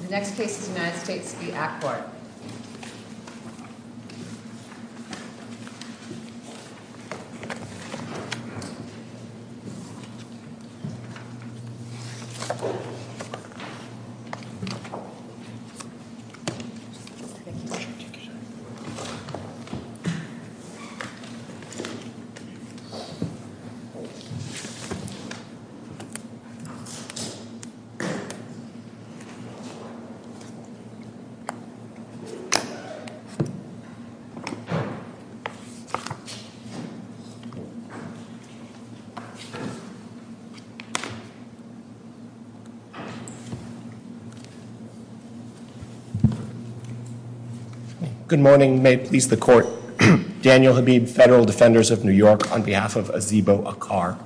The next case is United States v. Aquart Good morning. May it please the court. Daniel Habib, Federal Defenders of New York, on behalf of Azebo Aquart.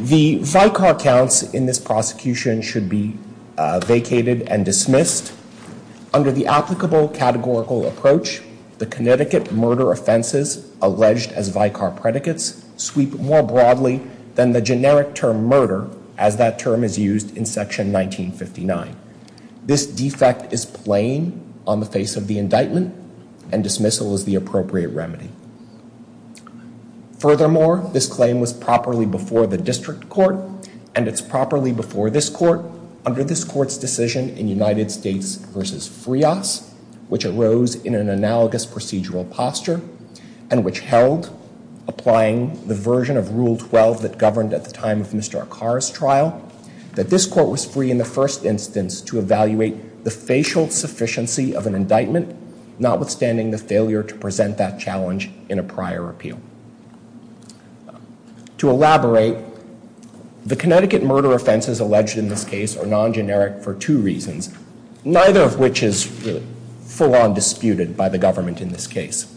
The vicar counts in this prosecution should be vacated and dismissed. Under the applicable categorical approach, the Connecticut murder offenses alleged as vicar predicates sweep more broadly than the generic term murder, as that term is used in section 1959. This defect is plain on the face of the indictment and dismissal is the appropriate remedy. Furthermore, this claim was properly before the district court, and it's properly before this court, under this court's decision in United States v. Frias, which arose in an analogous procedural posture, and which held, applying the version of Rule 12 that governed at the time of Mr. Aquart's trial, that this court was free in the first instance to evaluate the facial sufficiency of an indictment, notwithstanding the failure to present that challenge in a prior appeal. To elaborate, the Connecticut murder offenses alleged in this case are non-generic for two reasons, neither of which is full-on disputed by the government in this case.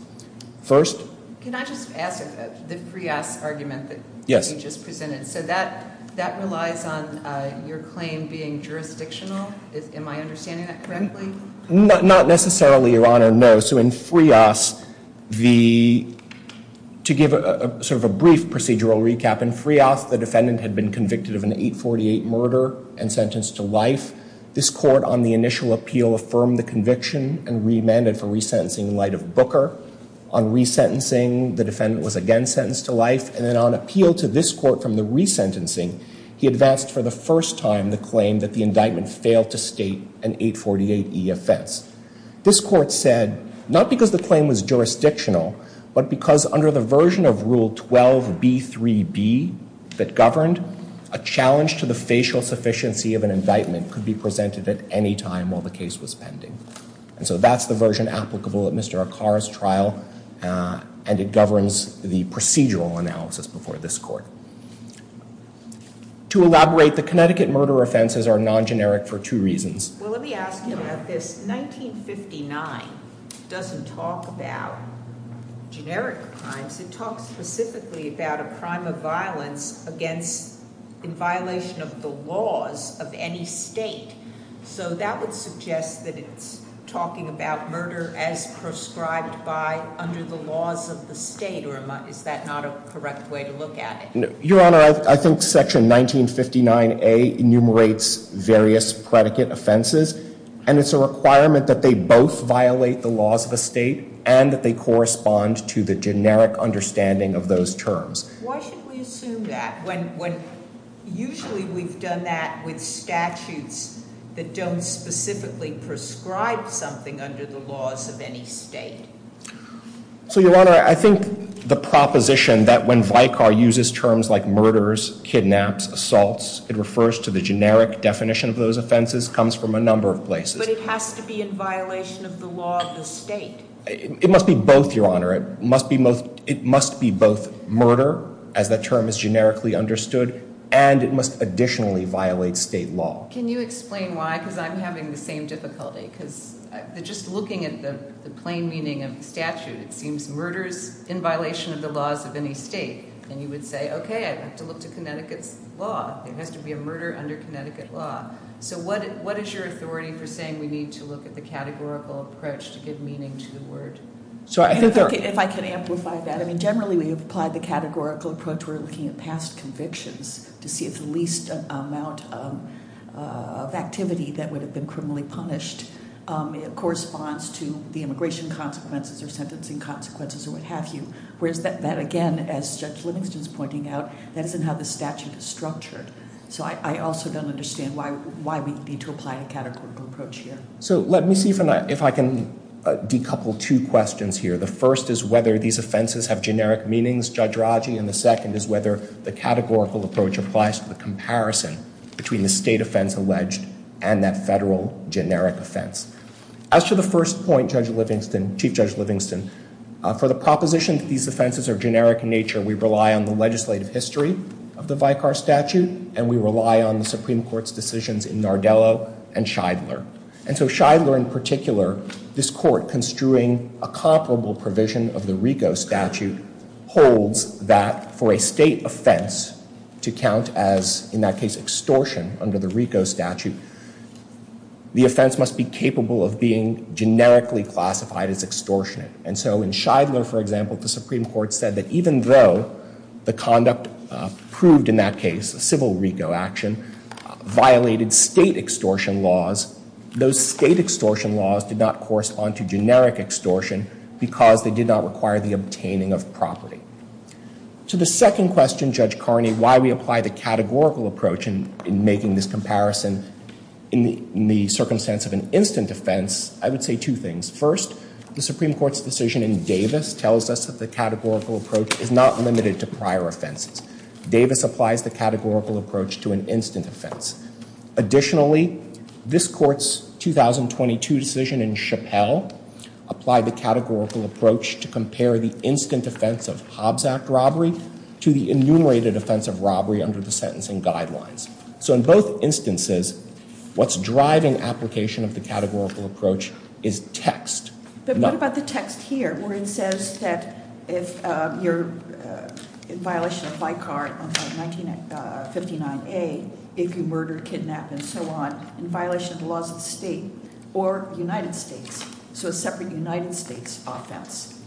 First? Can I just ask about the Frias argument that you just presented? Yes. So that relies on your claim being jurisdictional? Am I understanding that correctly? Not necessarily, Your Honor, no. So in Frias, to give sort of a brief procedural recap, in Frias, the defendant had been convicted of an 848 murder and sentenced to life. This court, on the initial appeal, affirmed the conviction and remanded for resentencing in light of Booker. On resentencing, the defendant was again sentenced to life. And then on appeal to this court from the resentencing, he advanced for the first time the claim that the indictment failed to state an 848E offense. This court said, not because the claim was jurisdictional, but because under the version of Rule 12b3b that governed, a challenge to the facial sufficiency of an indictment could be presented at any time while the case was pending. And so that's the version applicable at Mr. Akar's trial, and it governs the procedural analysis before this court. To elaborate, the Connecticut murder offenses are non-generic for two reasons. Well, let me ask you about this. 1959 doesn't talk about generic crimes. It talks specifically about a crime of violence against, in violation of the laws of any state. So that would suggest that it's talking about murder as prescribed by, under the laws of the state, or is that not a correct way to look at it? Your Honor, I think section 1959A enumerates various predicate offenses. And it's a requirement that they both violate the laws of a state and that they correspond to the generic understanding of those terms. Why should we assume that when usually we've done that with statutes that don't specifically prescribe something under the laws of any state? So, Your Honor, I think the proposition that when Vicar uses terms like murders, kidnaps, assaults, it refers to the generic definition of those offenses comes from a number of places. But it has to be in violation of the law of the state. It must be both, Your Honor. It must be both murder, as that term is generically understood, and it must additionally violate state law. Can you explain why? Because I'm having the same difficulty. Because just looking at the plain meaning of the statute, it seems murders in violation of the laws of any state. And you would say, okay, I have to look to Connecticut's law. There has to be a murder under Connecticut law. So what is your authority for saying we need to look at the categorical approach to give meaning to the word? If I could amplify that. I mean, generally we have applied the categorical approach. We're looking at past convictions to see if the least amount of activity that would have been criminally punished corresponds to the immigration consequences or sentencing consequences or what have you. Whereas that, again, as Judge Livingston is pointing out, that isn't how the statute is structured. So I also don't understand why we need to apply a categorical approach here. So let me see if I can decouple two questions here. The first is whether these offenses have generic meanings, Judge Raji, and the second is whether the categorical approach applies to the comparison between the state offense alleged and that federal generic offense. As to the first point, Chief Judge Livingston, for the proposition that these offenses are generic in nature, we rely on the legislative history of the Vicar Statute, and we rely on the Supreme Court's decisions in Nardello and Shidler. And so Shidler in particular, this court construing a comparable provision of the RICO statute, holds that for a state offense to count as, in that case, extortion under the RICO statute, the offense must be capable of being generically classified as extortionate. And so in Shidler, for example, the Supreme Court said that even though the conduct proved, in that case, a civil RICO action, violated state extortion laws, those state extortion laws did not correspond to generic extortion because they did not require the obtaining of property. To the second question, Judge Carney, why we apply the categorical approach in making this comparison in the circumstance of an instant offense, I would say two things. First, the Supreme Court's decision in Davis tells us that the categorical approach is not limited to prior offenses. Davis applies the categorical approach to an instant offense. Additionally, this court's 2022 decision in Chappelle applied the categorical approach to compare the instant offense of Hobbs Act robbery to the enumerated offense of robbery under the sentencing guidelines. So in both instances, what's driving application of the categorical approach is text. But what about the text here where it says that if you're in violation of BICAR 1959A, if you murder, kidnap, and so on, in violation of the laws of the state or the United States, so a separate United States offense?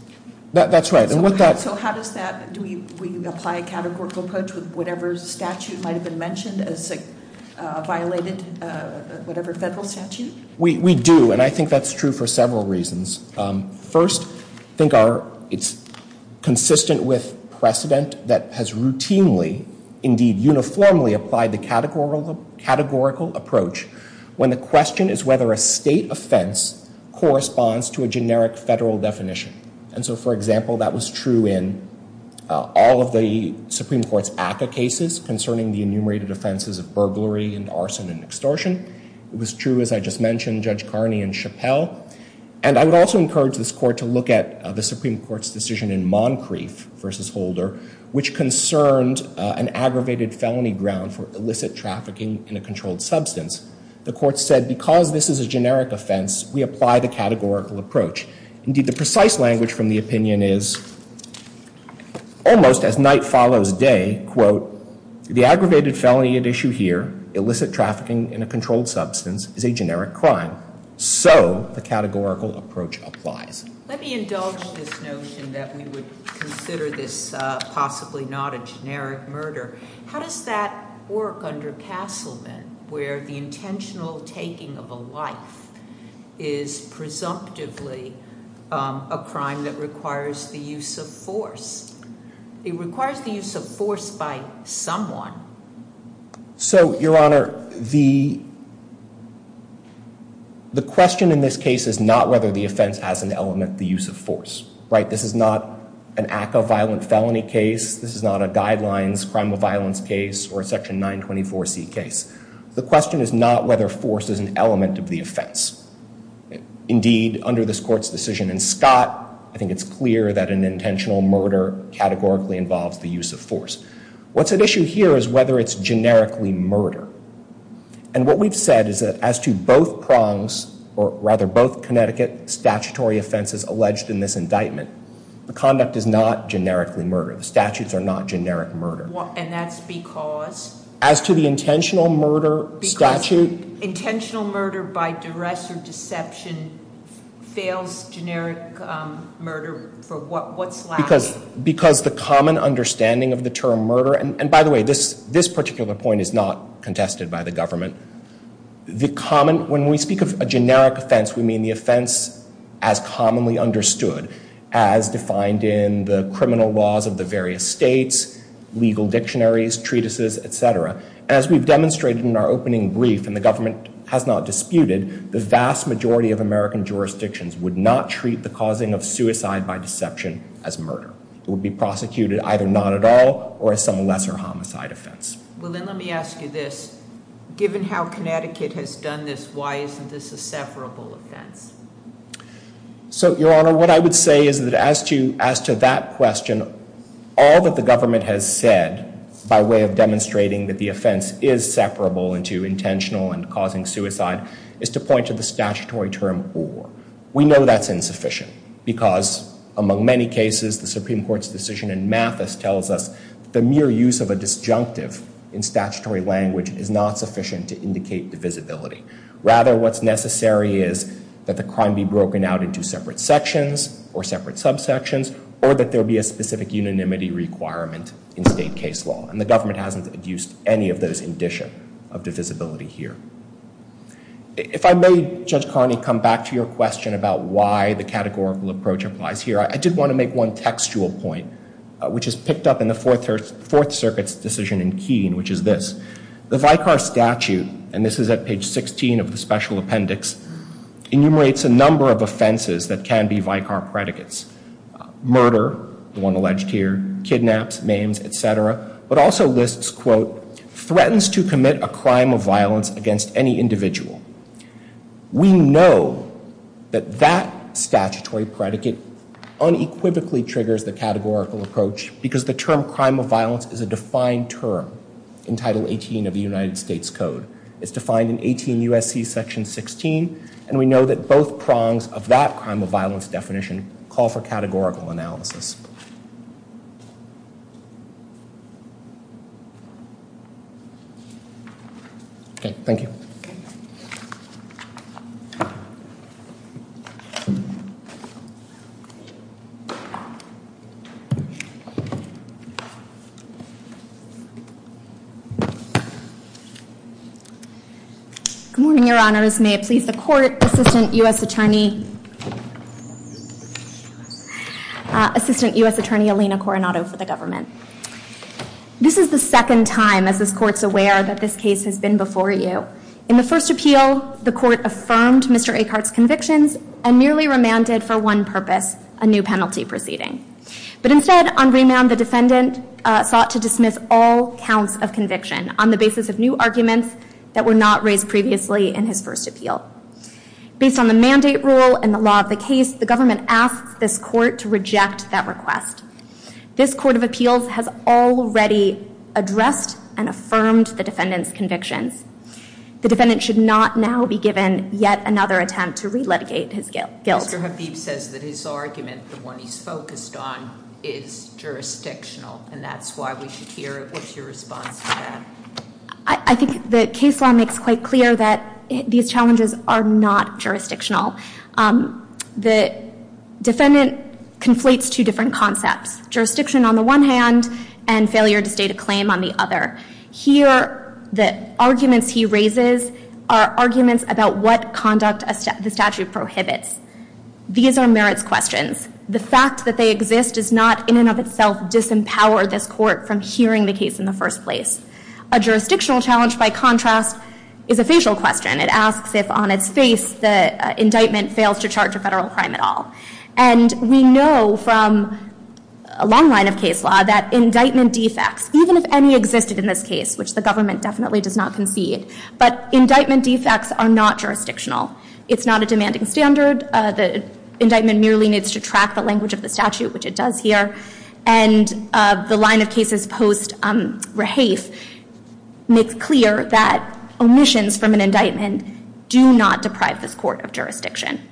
That's right. So how does that, do we apply a categorical approach with whatever statute might have been mentioned as violated, whatever federal statute? We do, and I think that's true for several reasons. First, I think it's consistent with precedent that has routinely, indeed uniformly, applied the categorical approach when the question is whether a state offense corresponds to a generic federal definition. And so, for example, that was true in all of the Supreme Court's ACCA cases concerning the enumerated offenses of burglary and arson and extortion. It was true, as I just mentioned, Judge Carney and Chappell. And I would also encourage this Court to look at the Supreme Court's decision in Moncrief v. Holder, which concerned an aggravated felony ground for illicit trafficking in a controlled substance. The Court said because this is a generic offense, we apply the categorical approach. Indeed, the precise language from the opinion is, almost as night follows day, quote, the aggravated felony at issue here, illicit trafficking in a controlled substance, is a generic crime. So the categorical approach applies. Let me indulge this notion that we would consider this possibly not a generic murder. How does that work under Castleman, where the intentional taking of a life is presumptively a crime that requires the use of force? It requires the use of force by someone. So, Your Honor, the question in this case is not whether the offense has an element of the use of force. Right? This is not an ACCA violent felony case. This is not a guidelines crime of violence case or a Section 924C case. The question is not whether force is an element of the offense. Indeed, under this Court's decision in Scott, I think it's clear that an intentional murder categorically involves the use of force. What's at issue here is whether it's generically murder. And what we've said is that as to both prongs, or rather both Connecticut statutory offenses alleged in this indictment, the conduct is not generically murder. The statutes are not generic murder. And that's because? As to the intentional murder statute? The intentional murder by duress or deception fails generic murder for what's left? Because the common understanding of the term murder, and by the way, this particular point is not contested by the government. When we speak of a generic offense, we mean the offense as commonly understood, as defined in the criminal laws of the various states, legal dictionaries, treatises, etc. As we've demonstrated in our opening brief, and the government has not disputed, the vast majority of American jurisdictions would not treat the causing of suicide by deception as murder. It would be prosecuted either not at all or as some lesser homicide offense. Well, then let me ask you this. Given how Connecticut has done this, why isn't this a severable offense? So, Your Honor, what I would say is that as to that question, all that the government has said by way of demonstrating that the offense is separable into intentional and causing suicide is to point to the statutory term or. We know that's insufficient because, among many cases, the Supreme Court's decision in Mathis tells us the mere use of a disjunctive in statutory language is not sufficient to indicate divisibility. Rather, what's necessary is that the crime be broken out into separate sections or separate subsections or that there be a specific unanimity requirement in state case law. And the government hasn't used any of those in addition of divisibility here. If I may, Judge Carney, come back to your question about why the categorical approach applies here, I did want to make one textual point, which is picked up in the Fourth Circuit's decision in Keene, which is this. The Vicar Statute, and this is at page 16 of the Special Appendix, enumerates a number of offenses that can be vicar predicates. Murder, the one alleged here, kidnaps, maims, et cetera, but also lists, quote, threatens to commit a crime of violence against any individual. We know that that statutory predicate unequivocally triggers the categorical approach because the term crime of violence is a defined term in Title 18 of the United States Code. It's defined in 18 U.S.C. Section 16. And we know that both prongs of that crime of violence definition call for categorical analysis. Okay. Thank you. Good morning, Your Honors. May it please the Court, Assistant U.S. Attorney Alina Coronado for the Government. This is the second time, as this Court's aware, that this case has been before you. In the first appeal, the Court affirmed Mr. Eckhart's convictions and merely remanded, for one purpose, a new penalty proceeding. But instead, on remand, the defendant sought to dismiss all counts of conviction on the basis of new arguments that were not raised previously in his first appeal. Based on the mandate rule and the law of the case, the Government asks this Court to reject that request. This Court of Appeals has already addressed and affirmed the defendant's convictions. The defendant should not now be given yet another attempt to re-litigate his guilt. Mr. Habib says that his argument, the one he's focused on, is jurisdictional, and that's why we should hear what's your response to that. I think the case law makes quite clear that these challenges are not jurisdictional. The defendant conflates two different concepts. Jurisdiction on the one hand, and failure to state a claim on the other. Here, the arguments he raises are arguments about what conduct the statute prohibits. These are merits questions. The fact that they exist does not, in and of itself, disempower this Court from hearing the case in the first place. A jurisdictional challenge, by contrast, is a facial question. It asks if, on its face, the indictment fails to charge a federal crime at all. And we know from a long line of case law that indictment defects, even if any existed in this case, which the Government definitely does not concede, but indictment defects are not jurisdictional. It's not a demanding standard. The indictment merely needs to track the language of the statute, which it does here. And the line of cases post-Rahafe makes clear that omissions from an indictment do not deprive this Court of jurisdiction.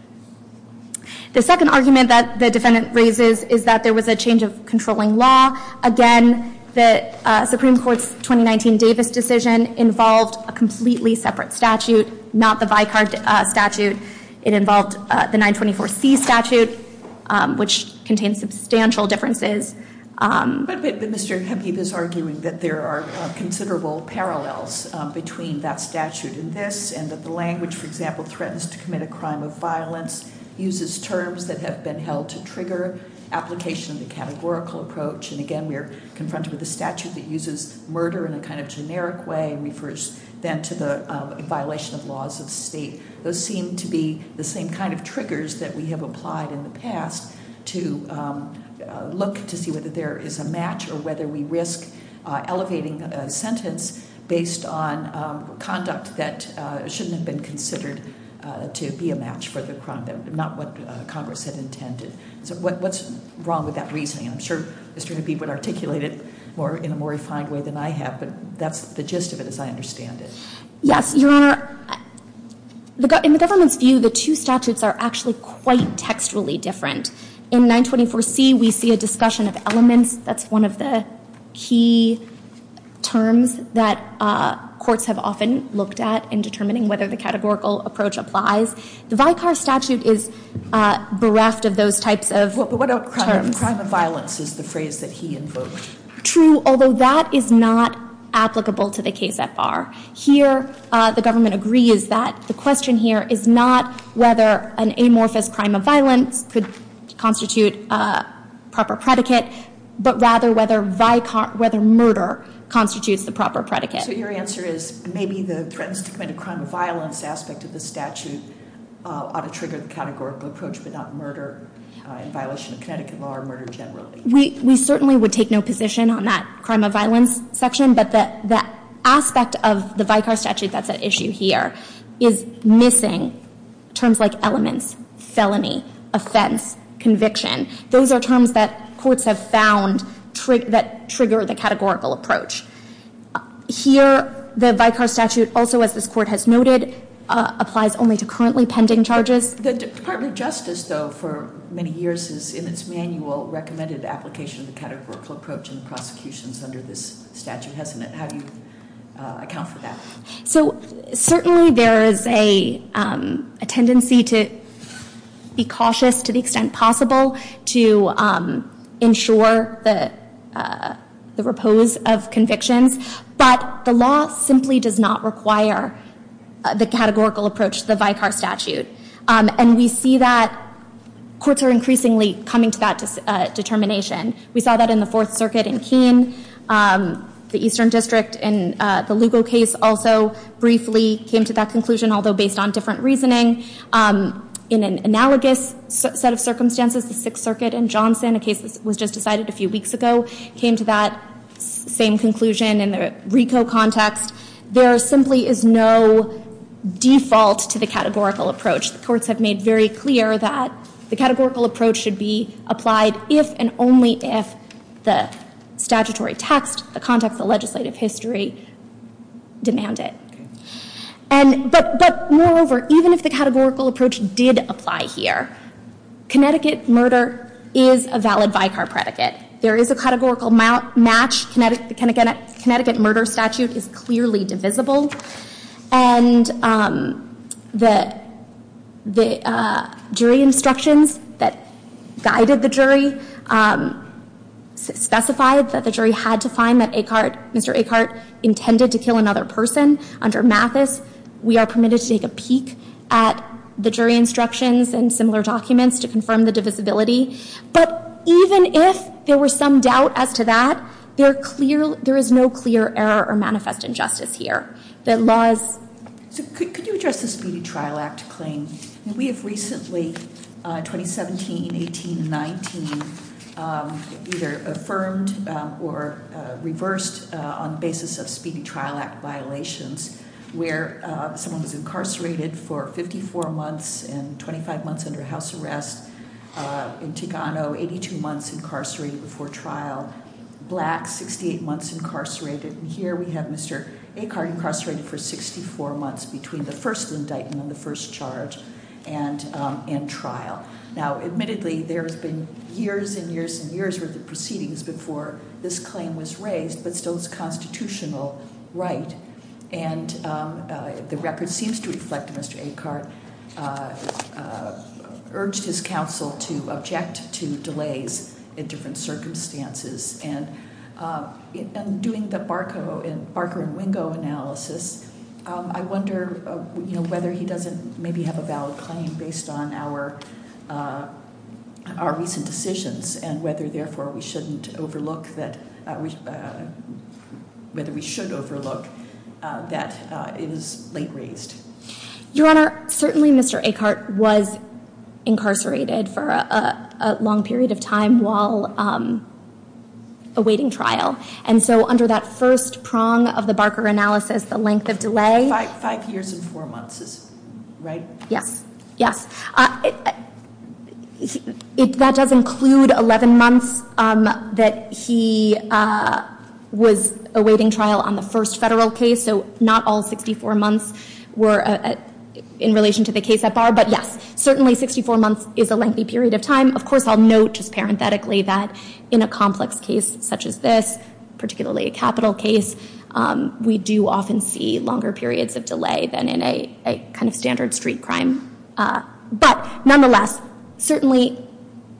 The second argument that the defendant raises is that there was a change of controlling law. Again, the Supreme Court's 2019 Davis decision involved a completely separate statute, not the Vicar statute. It involved the 924C statute, which contains substantial differences. But Mr. Hemke is arguing that there are considerable parallels between that statute and this, and that the language, for example, threatens to commit a crime of violence, uses terms that have been held to trigger application of the categorical approach. And again, we are confronted with a statute that uses murder in a kind of generic way, and refers then to the violation of laws of the state. Those seem to be the same kind of triggers that we have applied in the past to look to see whether there is a match or whether we risk elevating a sentence based on conduct that shouldn't have been considered to be a match for the crime, not what Congress had intended. So what's wrong with that reasoning? I'm sure Mr. Hemke would articulate it in a more refined way than I have, but that's the gist of it as I understand it. Yes, Your Honor. In the government's view, the two statutes are actually quite textually different. In 924C, we see a discussion of elements. That's one of the key terms that courts have often looked at in determining whether the categorical approach applies. The Vicar statute is bereft of those types of terms. But what about crime of violence is the phrase that he invoked. True, although that is not applicable to the case at bar. Here, the government agrees that the question here is not whether an amorphous crime of violence could constitute a proper predicate, but rather whether murder constitutes the proper predicate. So your answer is maybe the threat to commit a crime of violence aspect of the statute ought to trigger the categorical approach, but not murder in violation of Connecticut law or murder generally. We certainly would take no position on that crime of violence section, but that aspect of the Vicar statute that's at issue here is missing terms like elements, felony, offense, conviction. Those are terms that courts have found that trigger the categorical approach. Here, the Vicar statute also, as this Court has noted, applies only to currently pending charges. The Department of Justice, though, for many years has, in its manual, recommended application of the categorical approach in the prosecutions under this statute, hasn't it? How do you account for that? So certainly there is a tendency to be cautious to the extent possible to ensure the repose of convictions. But the law simply does not require the categorical approach to the Vicar statute. And we see that courts are increasingly coming to that determination. We saw that in the Fourth Circuit in Keene. The Eastern District in the Lugo case also briefly came to that conclusion, although based on different reasoning. In an analogous set of circumstances, the Sixth Circuit in Johnson, a case that was just decided a few weeks ago, came to that same conclusion in the RICO context. There simply is no default to the categorical approach. The courts have made very clear that the categorical approach should be applied if and only if the statutory text, the context of legislative history, demand it. But moreover, even if the categorical approach did apply here, Connecticut murder is a valid Vicar predicate. There is a categorical match. The Connecticut murder statute is clearly divisible. And the jury instructions that guided the jury specified that the jury had to find that Mr. Eckhart intended to kill another person. Under Mathis, we are permitted to take a peek at the jury instructions and similar documents to confirm the divisibility. But even if there were some doubt as to that, there is no clear error or manifest injustice here. The laws- So could you address the Speedy Trial Act claim? We have recently, 2017, 18, and 19, either affirmed or reversed on the basis of Speedy Trial Act violations where someone was incarcerated for 54 months and 25 months under house arrest in Tigano, 82 months incarcerated before trial, black, 68 months incarcerated. And here we have Mr. Eckhart incarcerated for 64 months between the first indictment and the first charge and trial. Now, admittedly, there has been years and years and years worth of proceedings before this claim was raised, but still it's a constitutional right. And the record seems to reflect that Mr. Eckhart urged his counsel to object to delays in different circumstances. And in doing the Barker and Wingo analysis, I wonder whether he doesn't maybe have a valid claim based on our recent decisions and whether, therefore, we shouldn't overlook that- whether we should overlook that it is late raised. Your Honor, certainly Mr. Eckhart was incarcerated for a long period of time while awaiting trial. And so under that first prong of the Barker analysis, the length of delay- Five years and four months is right? Yes, yes. That does include 11 months that he was awaiting trial on the first federal case, so not all 64 months were in relation to the case at bar. But yes, certainly 64 months is a lengthy period of time. Of course, I'll note just parenthetically that in a complex case such as this, particularly a capital case, we do often see longer periods of delay than in a kind of standard street crime. But nonetheless, certainly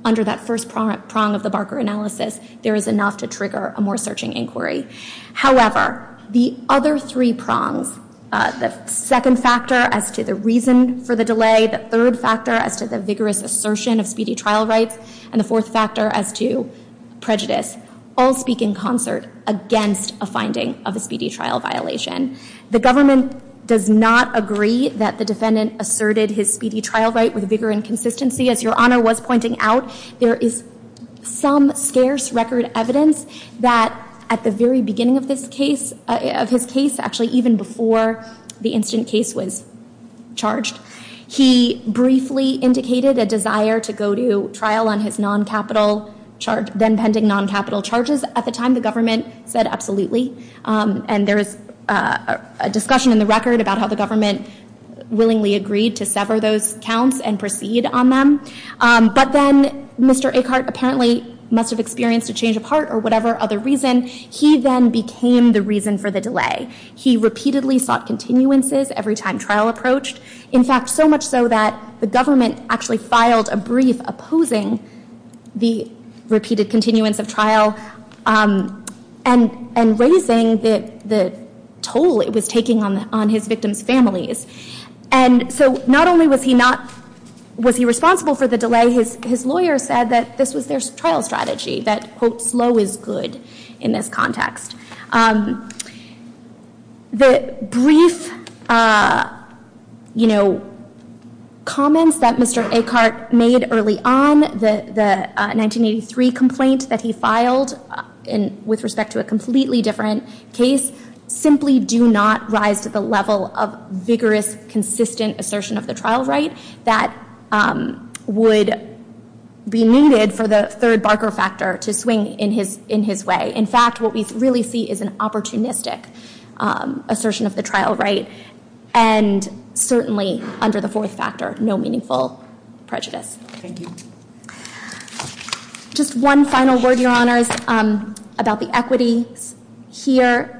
under that first prong of the Barker analysis, there is enough to trigger a more searching inquiry. However, the other three prongs- the second factor as to the reason for the delay, the third factor as to the vigorous assertion of speedy trial rights, and the fourth factor as to prejudice- all speak in concert against a finding of a speedy trial violation. The government does not agree that the defendant asserted his speedy trial right with vigor and consistency. As Your Honor was pointing out, there is some scarce record evidence that at the very beginning of his case, actually even before the incident case was charged, he briefly indicated a desire to go to trial on his non-capital charge- then pending non-capital charges. At the time, the government said absolutely, and there is a discussion in the record about how the government willingly agreed to sever those counts and proceed on them. But then Mr. Eckhart apparently must have experienced a change of heart or whatever other reason. He then became the reason for the delay. He repeatedly sought continuances every time trial approached. In fact, so much so that the government actually filed a brief opposing the repeated continuance of trial and raising the toll it was taking on his victim's families. And so not only was he not- was he responsible for the delay, his lawyer said that this was their trial strategy, that quote, slow is good in this context. The brief, you know, comments that Mr. Eckhart made early on, the 1983 complaint that he filed with respect to a completely different case, simply do not rise to the level of vigorous, consistent assertion of the trial right that would be needed for the third Barker factor to swing in his way. In fact, what we really see is an opportunistic assertion of the trial right, and certainly under the fourth factor, no meaningful prejudice. Thank you. Just one final word, Your Honors, about the equities. Here,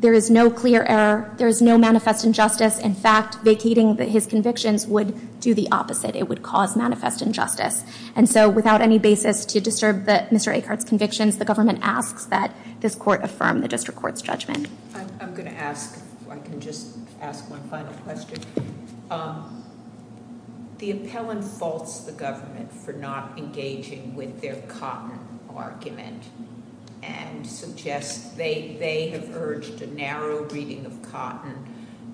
there is no clear error. There is no manifest injustice. In fact, vacating his convictions would do the opposite. It would cause manifest injustice. And so without any basis to disturb Mr. Eckhart's convictions, the government asks that this court affirm the district court's judgment. I'm going to ask if I can just ask one final question. The appellant faults the government for not engaging with their cotton argument and suggests they have urged a narrow reading of cotton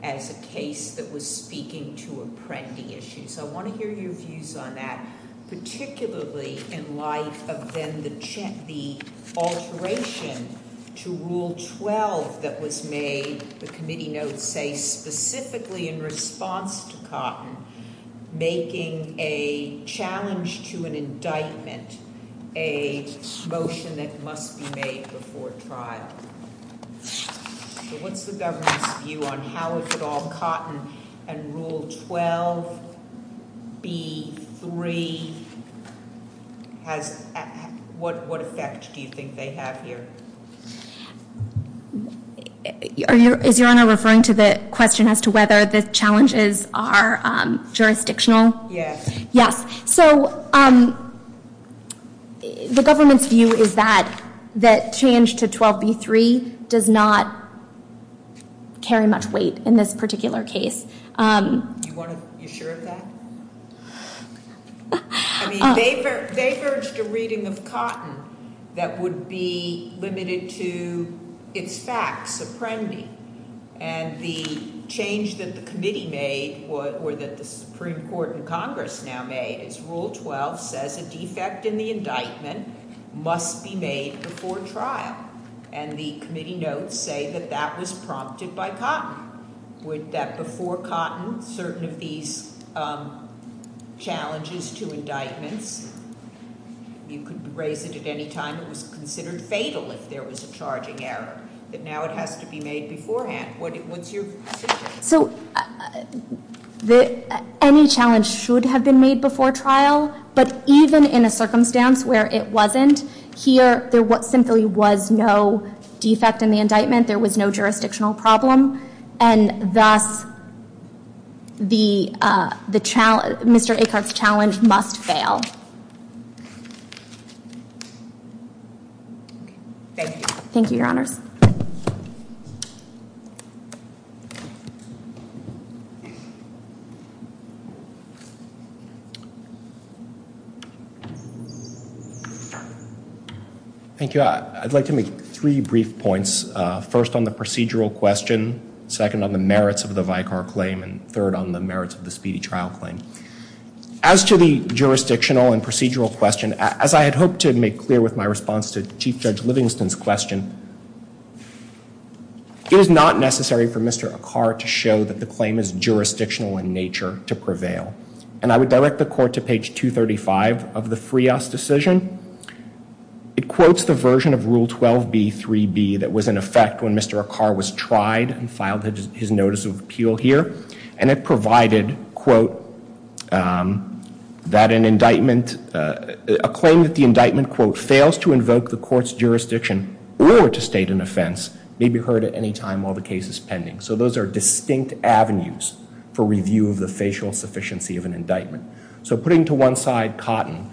as a case that was speaking to apprendee issues. I want to hear your views on that, particularly in light of then the alteration to Rule 12 that was made, the committee notes say, specifically in response to cotton, making a challenge to an indictment a motion that must be made before trial. So what's the government's view on how is it all cotton and Rule 12B3, what effect do you think they have here? Is Your Honor referring to the question as to whether the challenges are jurisdictional? Yes. Yes. So the government's view is that change to 12B3 does not carry much weight in this particular case. You sure of that? I mean, they've urged a reading of cotton that would be limited to its facts, apprendee, and the change that the committee made or that the Supreme Court and Congress now made, is Rule 12 says a defect in the indictment must be made before trial, and the committee notes say that that was prompted by cotton. Would that before cotton, certain of these challenges to indictments, you could raise it at any time it was considered fatal if there was a charging error, but now it has to be made beforehand. What's your position? So any challenge should have been made before trial, but even in a circumstance where it wasn't, here there simply was no defect in the indictment, there was no jurisdictional problem, and thus Mr. Acart's challenge must fail. Thank you. Thank you, Your Honors. Thank you. I'd like to make three brief points, first on the procedural question, second on the merits of the Vicar claim, and third on the merits of the speedy trial claim. As to the jurisdictional and procedural question, as I had hoped to make clear with my response to Chief Judge Livingston's question, it is not necessary for Mr. Acart to show that the claim is jurisdictional in nature to prevail, and I would direct the court to page 235 of the Frias decision. It quotes the version of Rule 12b-3b that was in effect when Mr. Acart was tried and filed his notice of appeal here, and it provided, quote, that an indictment, a claim that the indictment, quote, fails to invoke the court's jurisdiction or to state an offense may be heard at any time while the case is pending. So those are distinct avenues for review of the facial sufficiency of an indictment. So putting to one side cotton,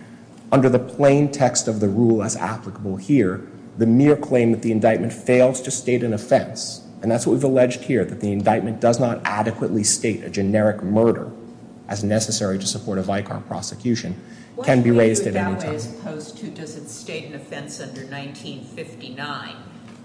under the plain text of the rule as applicable here, the mere claim that the indictment fails to state an offense, and that's what we've alleged here, that the indictment does not adequately state a generic murder as necessary to support a Vicar prosecution, can be raised at any time. What do you do with that as opposed to does it state an offense under 1959?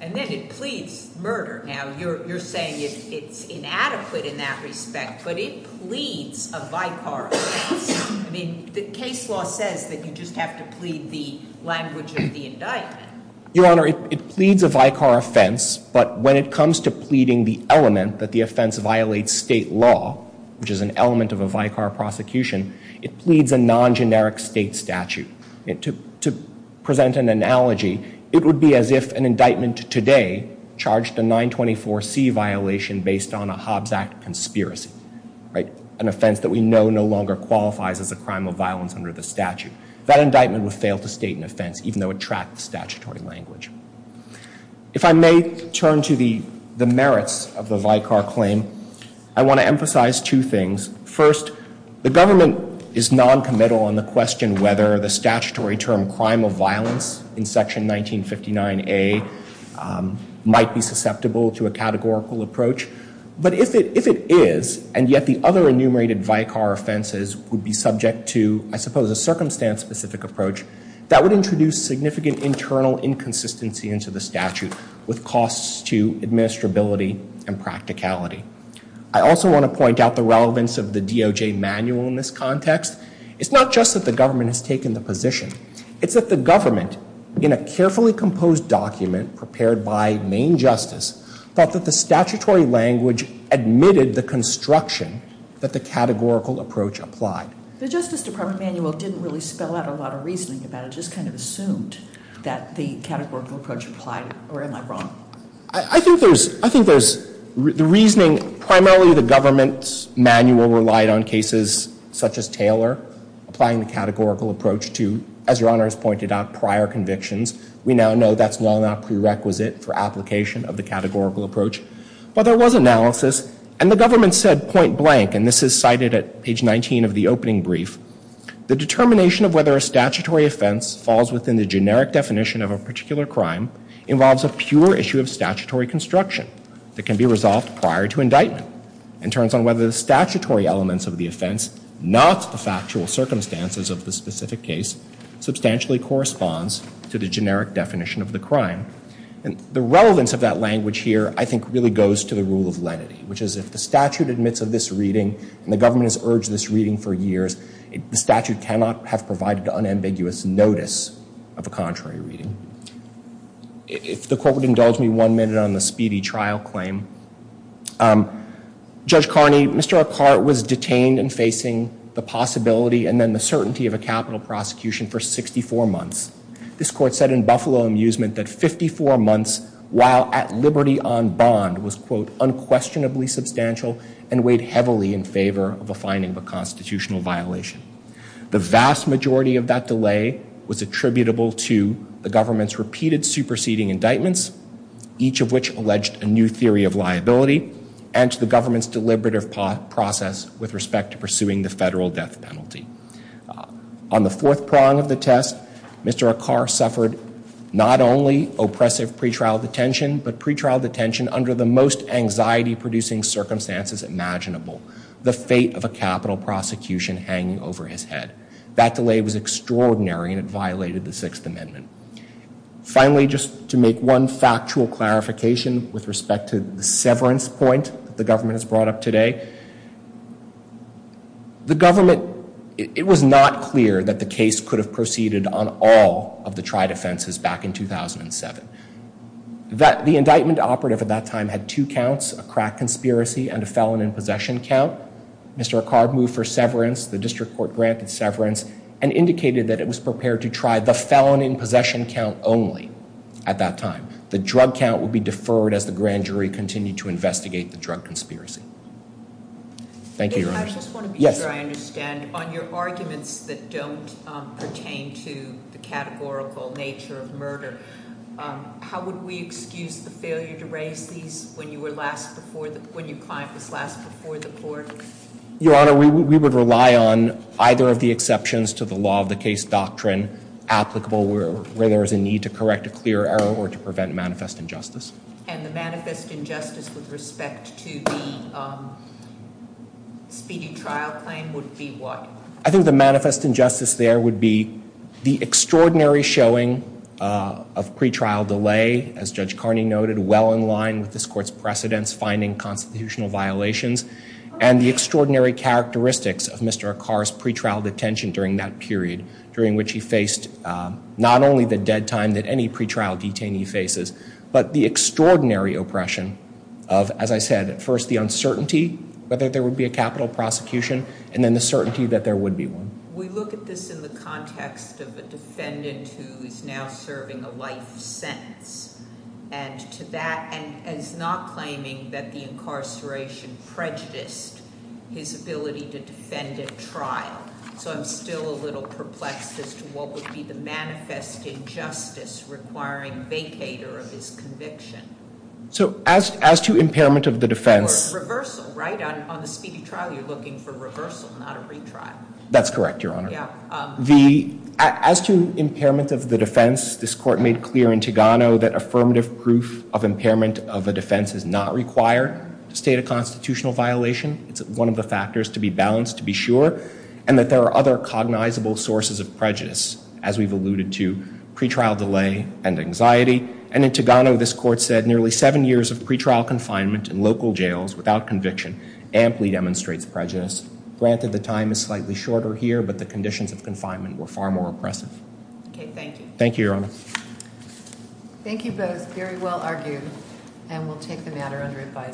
And then it pleads murder. Now, you're saying it's inadequate in that respect, but it pleads a Vicar offense. I mean, the case law says that you just have to plead the language of the indictment. Your Honor, it pleads a Vicar offense, but when it comes to pleading the element that the offense violates state law, which is an element of a Vicar prosecution, it pleads a non-generic state statute. To present an analogy, it would be as if an indictment today charged a 924C violation based on a Hobbs Act conspiracy, right? An offense that we know no longer qualifies as a crime of violence under the statute. That indictment would fail to state an offense, even though it tracks statutory language. If I may turn to the merits of the Vicar claim, I want to emphasize two things. First, the government is noncommittal on the question whether the statutory term crime of violence in Section 1959A might be susceptible to a categorical approach. But if it is, and yet the other enumerated Vicar offenses would be subject to, I suppose, a circumstance-specific approach, that would introduce significant internal inconsistency into the statute with costs to administrability and practicality. I also want to point out the relevance of the DOJ manual in this context. It's not just that the government has taken the position. It's that the government, in a carefully composed document prepared by Maine Justice, thought that the statutory language admitted the construction that the categorical approach applied. The Justice Department manual didn't really spell out a lot of reasoning about it. It just kind of assumed that the categorical approach applied. Or am I wrong? I think there's the reasoning. Primarily, the government's manual relied on cases such as Taylor applying the categorical approach to, as Your Honor has pointed out, prior convictions. We now know that's well enough prerequisite for application of the categorical approach. But there was analysis. And the government said, point blank, and this is cited at page 19 of the opening brief, the determination of whether a statutory offense falls within the generic definition of a particular crime involves a pure issue of statutory construction that can be resolved prior to indictment and turns on whether the statutory elements of the offense, not the factual circumstances of the specific case, substantially corresponds to the generic definition of the crime. The relevance of that language here, I think, really goes to the rule of lenity, which is if the statute admits of this reading and the government has urged this reading for years, the statute cannot have provided unambiguous notice of a contrary reading. If the Court would indulge me one minute on the speedy trial claim. Judge Carney, Mr. Ackar was detained and facing the possibility and then the certainty of a capital prosecution for 64 months. This Court said in Buffalo Amusement that 54 months while at liberty on bond was, quote, unquestionably substantial and weighed heavily in favor of a finding of a constitutional violation. The vast majority of that delay was attributable to the government's repeated superseding indictments, each of which alleged a new theory of liability, and to the government's deliberative process with respect to pursuing the federal death penalty. On the fourth prong of the test, Mr. Ackar suffered not only oppressive pretrial detention, but pretrial detention under the most anxiety-producing circumstances imaginable, the fate of a capital prosecution hanging over his head. That delay was extraordinary and it violated the Sixth Amendment. Finally, just to make one factual clarification with respect to the severance point that the government has brought up today, the government, it was not clear that the case could have proceeded on all of the tried offenses back in 2007. The indictment operative at that time had two counts, a crack conspiracy and a felon in possession count. Mr. Ackar moved for severance, the district court granted severance, and indicated that it was prepared to try the felon in possession count only at that time. The drug count would be deferred as the grand jury continued to investigate the drug conspiracy. Thank you, Your Honor. I just want to be sure I understand. On your arguments that don't pertain to the categorical nature of murder, how would we excuse the failure to raise these when your client was last before the court? Your Honor, we would rely on either of the exceptions to the law of the case doctrine where there is a need to correct a clear error or to prevent manifest injustice. And the manifest injustice with respect to the speedy trial claim would be what? I think the manifest injustice there would be the extraordinary showing of pretrial delay, as Judge Carney noted, well in line with this court's precedents finding constitutional violations, and the extraordinary characteristics of Mr. Ackar's pretrial detention during that period during which he faced not only the dead time that any pretrial detainee faces, but the extraordinary oppression of, as I said, first the uncertainty whether there would be a capital prosecution, and then the certainty that there would be one. We look at this in the context of a defendant who is now serving a life sentence, and to that, and is not claiming that the incarceration prejudiced his ability to defend at trial. So I'm still a little perplexed as to what would be the manifest injustice requiring vacator of his conviction. So as to impairment of the defense. Reversal, right? On the speedy trial, you're looking for reversal, not a retrial. That's correct, Your Honor. As to impairment of the defense, this court made clear in Tigano that affirmative proof of impairment of a defense is not required to state a constitutional violation. It's one of the factors to be balanced, to be sure, and that there are other cognizable sources of prejudice, as we've alluded to, pretrial delay and anxiety. And in Tigano, this court said nearly seven years of pretrial confinement in local jails without conviction amply demonstrates prejudice. Granted, the time is slightly shorter here, but the conditions of confinement were far more oppressive. Okay, thank you. Thank you, Your Honor. Thank you both. Very well argued. And we'll take the matter under advisory.